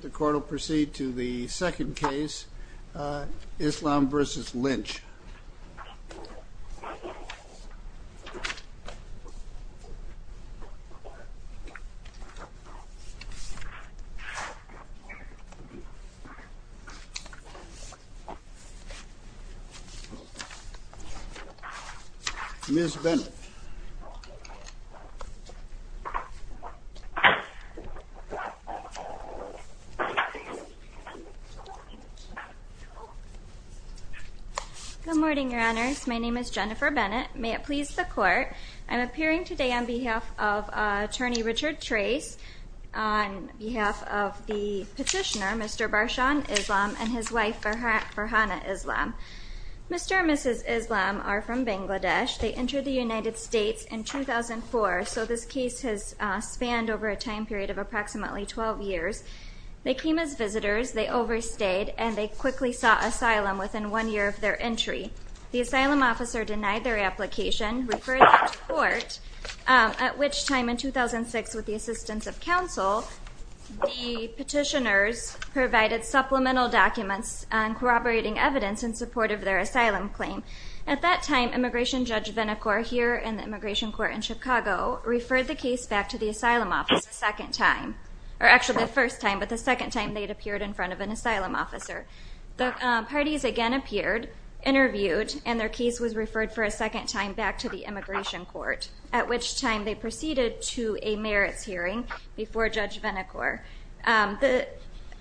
The court will proceed to the second case, Islam v. Lynch. Ms. Bennett. Good morning, your honors. My name is Jennifer Bennett. May it please the court, I'm appearing today on behalf of attorney Richard Trace on behalf of the petitioner, Mr. Barshan Islam and his wife Farhana Islam. Mr. and Mrs. Islam are from Bangladesh. They entered the United States in 2011. They came as visitors, they overstayed, and they quickly sought asylum within one year of their entry. The asylum officer denied their application, referred them to court, at which time in 2006, with the assistance of counsel, the petitioners provided supplemental documents corroborating evidence in support of their asylum claim. At that time, Immigration Judge Vinacore here in the Immigration Court in Chicago referred the case back to the asylum office a second time, or actually a first time, but the second time they'd appeared in front of an asylum officer. The parties again appeared, interviewed, and their case was referred for a second time back to the Immigration Court, at which time they proceeded to a merits hearing before Judge Vinacore. The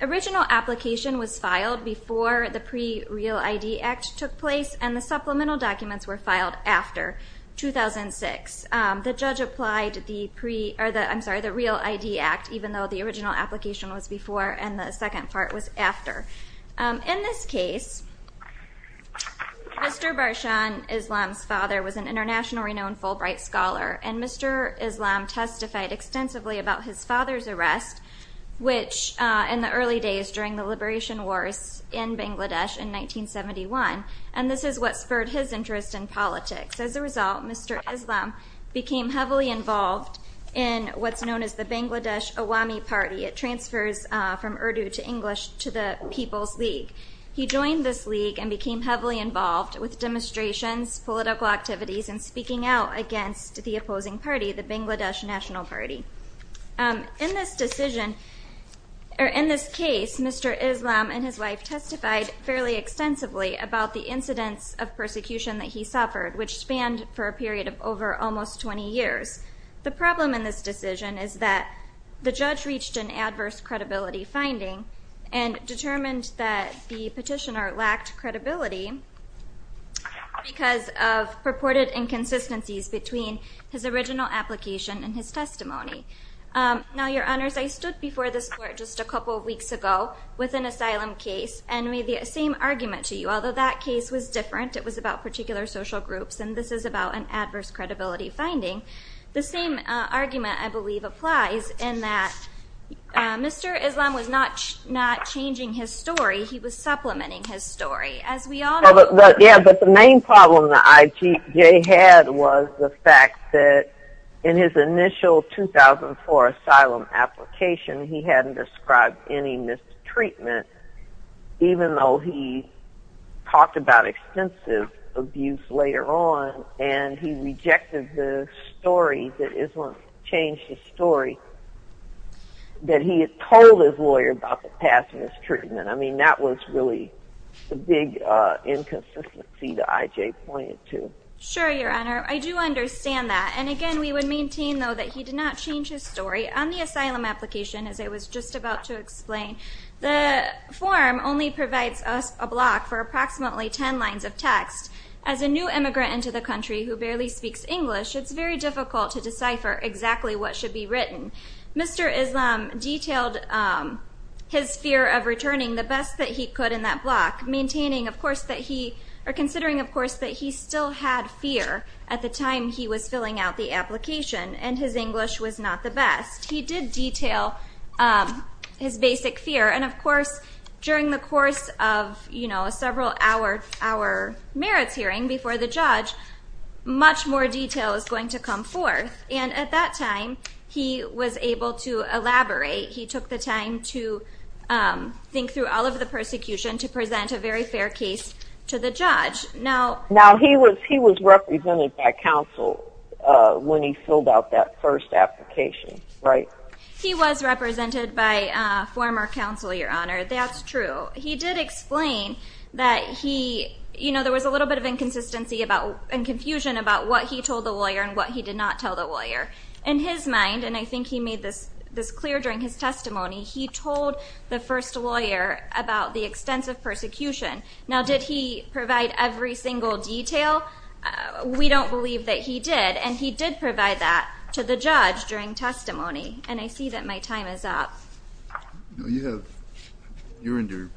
original application was filed before the Pre-Real ID Act took place, and the supplemental documents were filed after 2006. The judge applied the Real ID Act, even though the original application was before, and the second part was after. In this case, Mr. Barshan Islam's father was an internationally known Fulbright scholar, and Mr. Islam testified extensively about his father's arrest, which in the early days during the Liberation Wars in Bangladesh in politics. As a result, Mr. Islam became heavily involved in what's known as the Bangladesh Awami Party. It transfers from Urdu to English to the People's League. He joined this league and became heavily involved with demonstrations, political activities, and speaking out against the opposing party, the Bangladesh National Party. In this decision, or in this case, Mr. Islam and his wife testified fairly extensively about the incidents of persecution that he suffered, which spanned for a period of over almost 20 years. The problem in this decision is that the judge reached an adverse credibility finding and determined that the petitioner lacked credibility because of purported inconsistencies between his original application and his testimony. Now, Your Honors, I stood before this court just a couple of weeks ago with an asylum case and made the same argument to you, although that case was different. It was about particular social groups, and this is about an adverse credibility finding. The same argument, I believe, applies in that Mr. Islam was not changing his story. He was supplementing his story, as we all know. Yeah, but the main problem that IJJ had was the fact that in his initial 2004 asylum application, he hadn't described any mistreatment, even though he talked about extensive abuse later on, and he rejected the story that Islam changed his story, that he had told his lawyer about the past mistreatment. I mean, that was really the big inconsistency that IJJ pointed to. Sure, Your Honor. I do understand that, and again, we would maintain, though, that he did not change his story. On the asylum application, as I was just about to explain, the form only provides us a block for approximately 10 lines of text. As a new immigrant into the country who barely speaks English, it's very difficult to decipher exactly what should be written. Mr. Islam detailed his fear of returning the best that he could in that block, maintaining, of course, that he, or considering, of course, that he still had fear at the time he was in the block, that English was not the best. He did detail his basic fear, and of course, during the course of, you know, a several-hour merits hearing before the judge, much more detail is going to come forth, and at that time, he was able to elaborate. He took the time to think through all of the persecution to present a very fair case to the judge. Now, he was represented by counsel when he filled out that first application, right? He was represented by former counsel, Your Honor. That's true. He did explain that he, you know, there was a little bit of inconsistency and confusion about what he told the lawyer and what he did not tell the lawyer. In his mind, and I think he made this clear during his testimony, he told the first lawyer about the extensive persecution. Now, did he provide every single detail? We don't believe that he did, and he did provide that to the judge during testimony, and I see that my time is up. No, you have, you're in your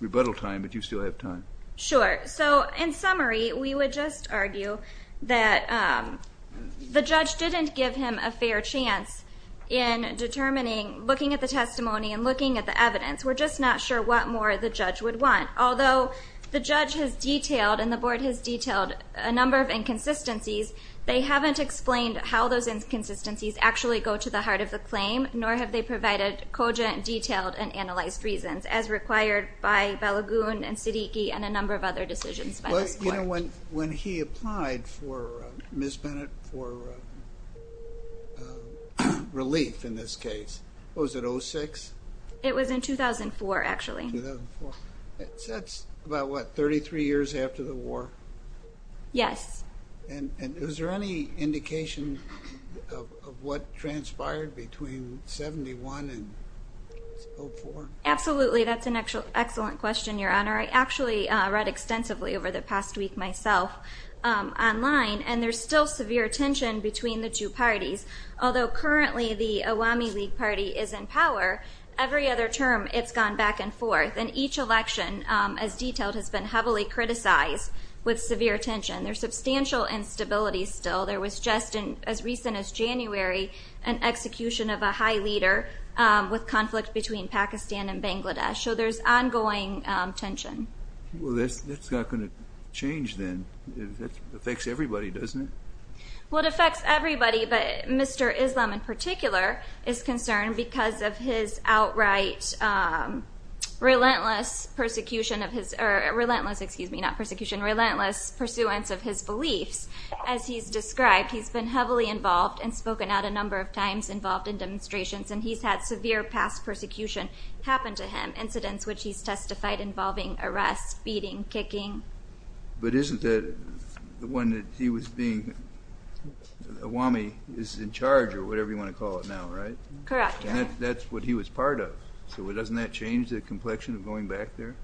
rebuttal time, but you still have time. Sure. So, in summary, we would just argue that the judge didn't give him a fair chance in determining, looking at the testimony and looking at the evidence. We're just not sure what more the judge would want. Although the judge has detailed and the board has detailed a number of inconsistencies, they haven't explained how those inconsistencies actually go to the heart of the claim, nor have they provided cogent, detailed, and analyzed reasons, as required by Balagoon and Siddiqi and a number of other decisions by this court. But, you know, when he applied for, Ms. Bennett, for relief in this case, what was it, 06? It was in 2004, actually. 2004. That's about, what, 33 years after the war? Yes. And is there any indication of what transpired between 71 and 04? Absolutely. That's an excellent question, Your Honor. I actually read extensively over the past week myself online, and there's still severe tension between the two parties. Although currently the Awami League Party is in power, every other term it's gone back and forth, and each election, as detailed, has been heavily criticized with severe tension. There's substantial instability still. There was just, as recent as January, an execution of a high leader with conflict between Pakistan and Bangladesh. So there's ongoing tension. Well, that's not going to change then. It affects everybody, doesn't it? Well, it affects everybody, but Mr. Islam in particular is concerned because of his outright relentless persecution of his, or relentless, excuse me, not persecution, relentless pursuance of his beliefs. As he's described, he's been heavily involved and spoken out a number of times involved in demonstrations, and he's had severe past persecution happen to him, incidents which he's testified involving arrests, beating, kicking. But isn't that the one that he was being, Awami is in charge or whatever you want to call it now, right? Correct. And that's what he was part of. So doesn't that change the complexion of going back there?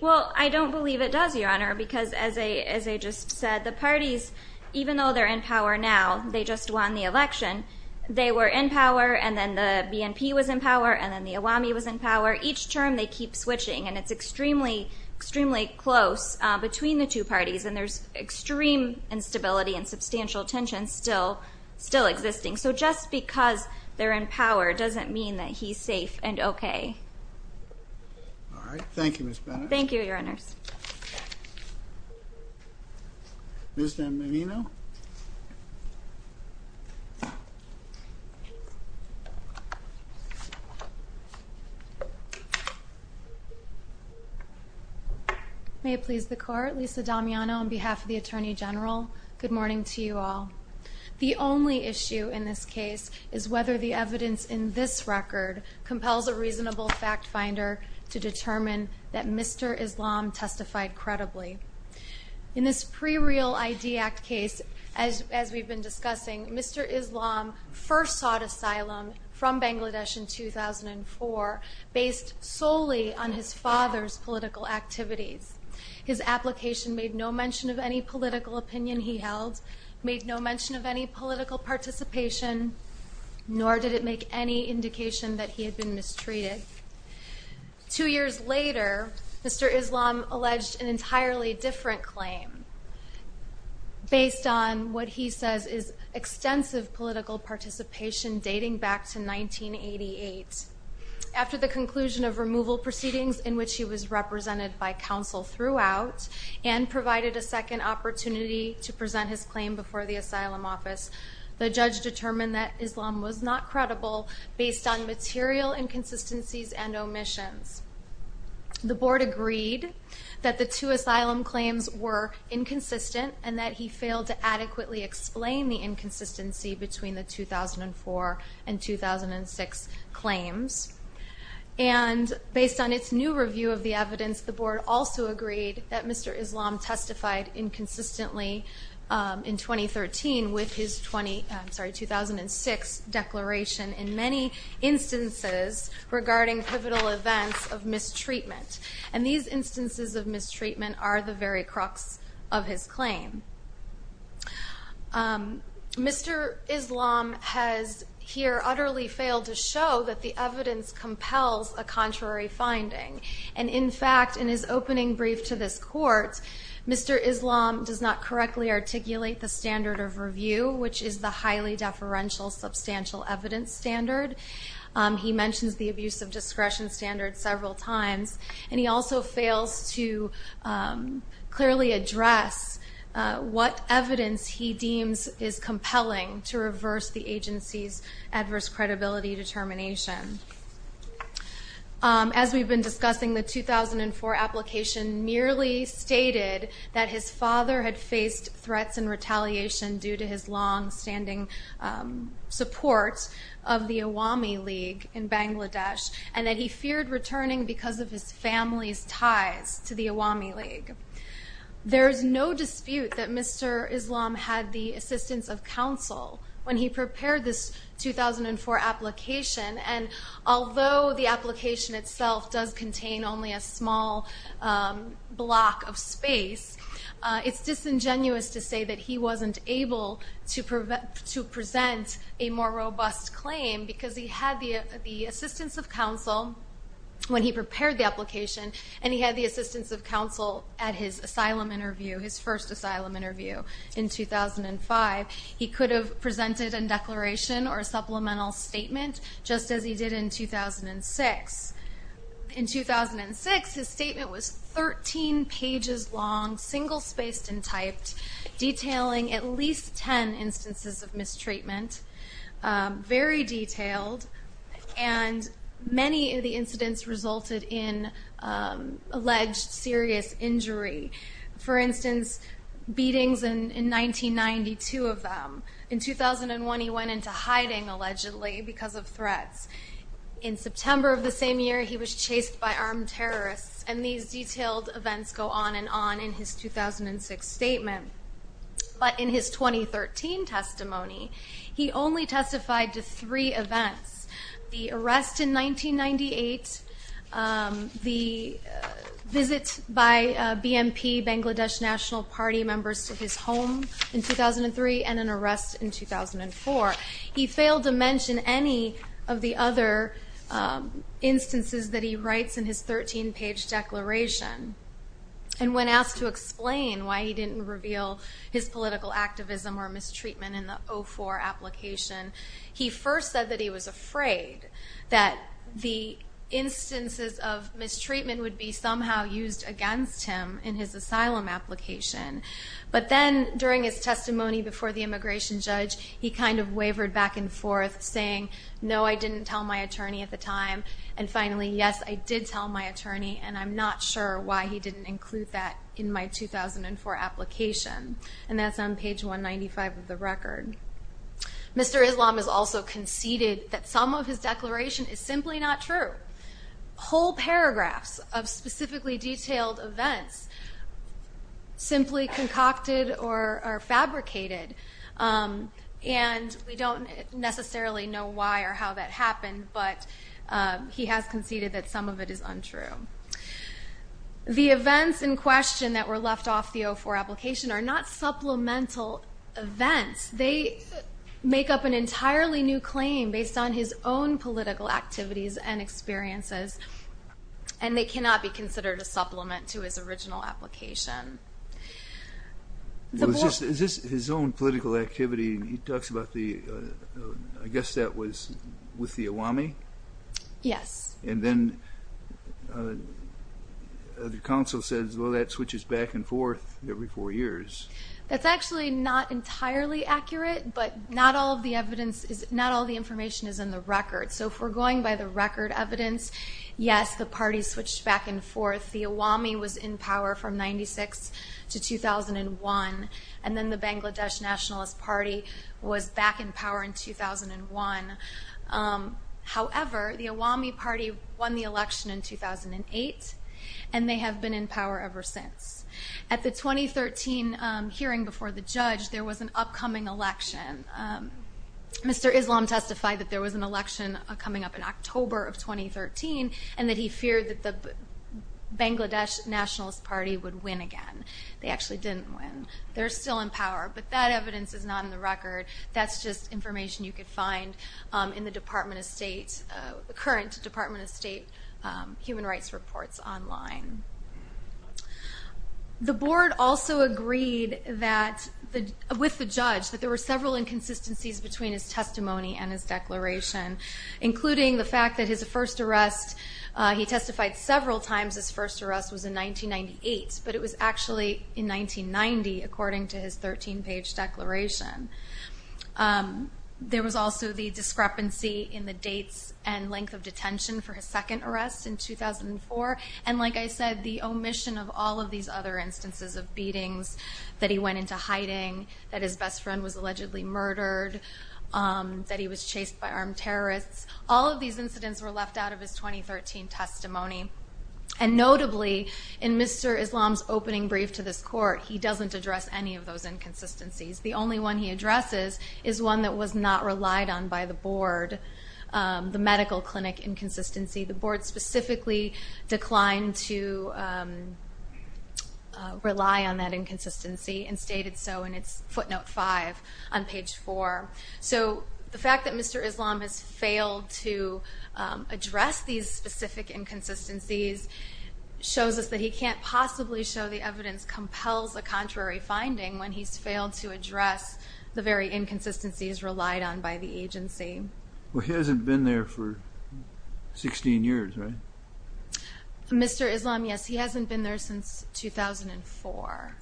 Well, I don't believe it does, Your Honor, because as I just said, the parties, even though they're in power now, they just won the election. They were in power, and then the BNP was in power, and then the Awami was in power. Each term, they keep switching, and it's extremely, extremely close between the two parties, and there's extreme instability and substantial tension still existing. So just because they're in power doesn't mean that he's safe and okay. All right. Thank you, Ms. Bennett. Thank you, Your Honors. Ms. D'Aminino? May it please the Court, Lisa D'Aminino on behalf of the Attorney General, good morning to you all. The only issue in this case is whether the evidence in this record compels a reasonable fact finder to determine that Mr. Islam testified credibly. In this pre-real ID Act case, as we've been discussing, Mr. Islam first sought asylum from Bangladesh in 2004 based solely on his father's political activities. His application made no mention of any political opinion he held, made no mention of any political participation, nor did it make any indication that he had been mistreated. Two years later, Mr. Islam alleged an entirely different claim based on what he says is extensive political participation dating back to 1988. After the conclusion of removal proceedings in which he was represented by counsel throughout and provided a second opportunity to present his claim before the asylum office, the judge determined that Islam was not credible based on material inconsistencies and omissions. The Board agreed that the two asylum claims were inconsistent and that he failed to adequately explain the inconsistency between the 2004 and 2006 claims. Based on its new review of the evidence, the Board also agreed that Mr. Islam testified inconsistently in 2013 with his 2006 declaration in many instances regarding pivotal events of mistreatment. And these instances of mistreatment are the very crux of his claim. Mr. Islam has here utterly failed to show that the evidence compels a contrary finding. And in fact, in his opening brief to this court, Mr. Islam does not correctly articulate the standard of review, which is the highly deferential substantial evidence standard. He mentions the abuse of discretion standard several times, and he also fails to clearly address what evidence he deems is compelling to reverse the agency's adverse credibility determination. As we've been discussing, the 2004 application merely stated that his father had faced threats and retaliation due to his longstanding support of the Awami League in Bangladesh, and that he feared returning because of his family's ties to the Awami League. There is no dispute that Mr. Islam had the assistance of counsel when he prepared this 2004 application, and although the application itself does contain only a small block of space, it's disingenuous to say that he wasn't able to present a more robust claim because he had the assistance of counsel when he prepared the application, and he had the assistance of counsel at his first asylum interview in 2005. He could have presented a declaration or a supplemental statement just as he did in 2006. In 2006, his statement was 13 pages long, single-spaced and typed, detailing at least 10 instances of mistreatment, very detailed, and many of the incidents resulted in alleged serious injury. For instance, beatings in 1992 of them. In 2001, he went into hiding, allegedly, because of threats. In September of the same year, he was chased by armed terrorists, and these detailed events go on and on in his 2006 statement. But in his 2013 testimony, he only testified to three events, the arrest in 1998, the visit by BNP Bangladesh National Party members to his home in 2003, and an arrest in 2004. He failed to mention any of the other instances that he writes in his 13-page declaration, and when asked to explain why he didn't reveal his political activism or mistreatment in the 04 application, he first said that he was afraid that the instances of mistreatment would be somehow used against him in his asylum application. But then, during his testimony before the immigration judge, he kind of wavered back and forth, saying, no, I didn't tell my attorney at the time, and finally, yes, I did tell my attorney, and I'm not sure why he didn't include that in my 2004 application. And that's on page 195 of the record. Mr. Islam has also conceded that some of his declaration is simply not true. Whole paragraphs of specifically detailed events simply concocted or fabricated, and we don't necessarily know why or how that happened, but he has conceded that some of it is untrue. The events in question that were left off the 04 application are not supplemental events. They make up an entirely new claim based on his own political activities and experiences, and they cannot be considered a supplement to his original application. Is this his own political activity? He talks about the, I guess that was with the Awami? Yes. And then the counsel says, well, that switches back and forth every four years. That's actually not entirely accurate, but not all the information is in the record. So if we're going by the record evidence, yes, the party switched back and forth. The Awami was in power from 96 to 2001, and then the Bangladesh Nationalist Party was back in power in 2001. However, the Awami Party won the election in 2008, and they have been in power ever since. At the 2013 hearing before the judge, there was an upcoming election. Mr. Islam testified that there was an election coming up in October of 2013 and that he feared that the Bangladesh Nationalist Party would win again. They actually didn't win. They're still in power, but that evidence is not in the record. That's just information you could find in the current Department of State human rights reports online. The board also agreed with the judge that there were several inconsistencies between his testimony and his declaration, including the fact that his first arrest, he testified several times his first arrest was in 1998, but it was actually in 1990 according to his 13-page declaration. There was also the discrepancy in the dates and length of detention for his second arrest in 2004, and like I said, the omission of all of these other instances of beatings, that he went into hiding, that his best friend was allegedly murdered, that he was chased by armed terrorists. All of these incidents were left out of his 2013 testimony, and notably in Mr. Islam's opening brief to this court, he doesn't address any of those inconsistencies. The only one he addresses is one that was not relied on by the board, the medical clinic inconsistency. The board specifically declined to rely on that inconsistency and stated so in its footnote 5 on page 4. So the fact that Mr. Islam has failed to address these specific inconsistencies shows us that he can't possibly show the evidence compels a contrary finding when he's failed to address the very inconsistencies relied on by the agency. Well, he hasn't been there for 16 years, right? Mr. Islam, yes, he hasn't been there since 2004,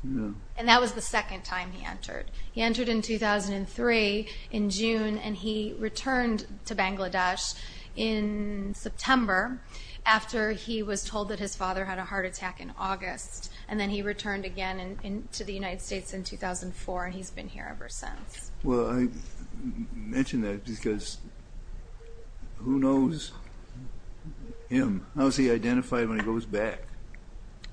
and that was the second time he entered. He entered in 2003 in June, and he returned to Bangladesh in September after he was told that his father had a heart attack in August, and then he returned again to the United States in 2004, and he's been here ever since. Well, I mention that because who knows him? How is he identified when he goes back?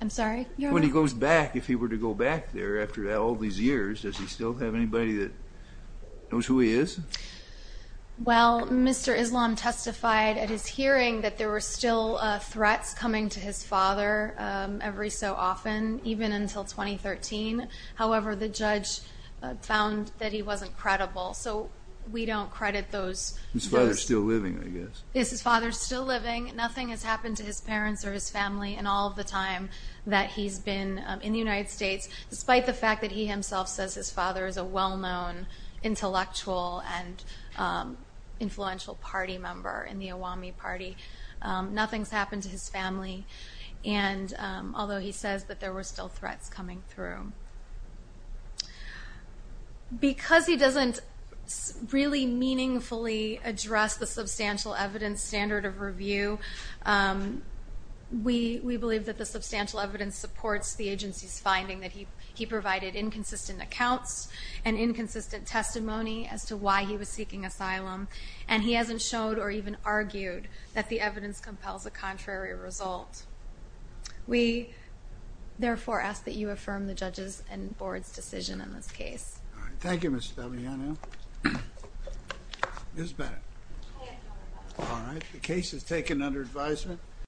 I'm sorry? When he goes back, if he were to go back there after all these years, does he still have anybody that knows who he is? Well, Mr. Islam testified at his hearing that there were still threats coming to his father every so often, even until 2013. However, the judge found that he wasn't credible, so we don't credit those. His father's still living, I guess. Yes, his father's still living. Nothing has happened to his parents or his family in all of the time that he's been in the United States, despite the fact that he himself says his father is a well-known intellectual and influential party member in the Awami Party. Nothing's happened to his family, although he says that there were still threats coming through. Because he doesn't really meaningfully address the substantial evidence standard of review, we believe that the substantial evidence supports the agency's finding that he provided inconsistent accounts and inconsistent testimony as to why he was seeking asylum, and he hasn't showed or even argued that the evidence compels a contrary result. We, therefore, ask that you affirm the judge's and board's decision in this case. Thank you, Ms. Stabianu. Ms. Bennett. All right, the case is taken under advisement.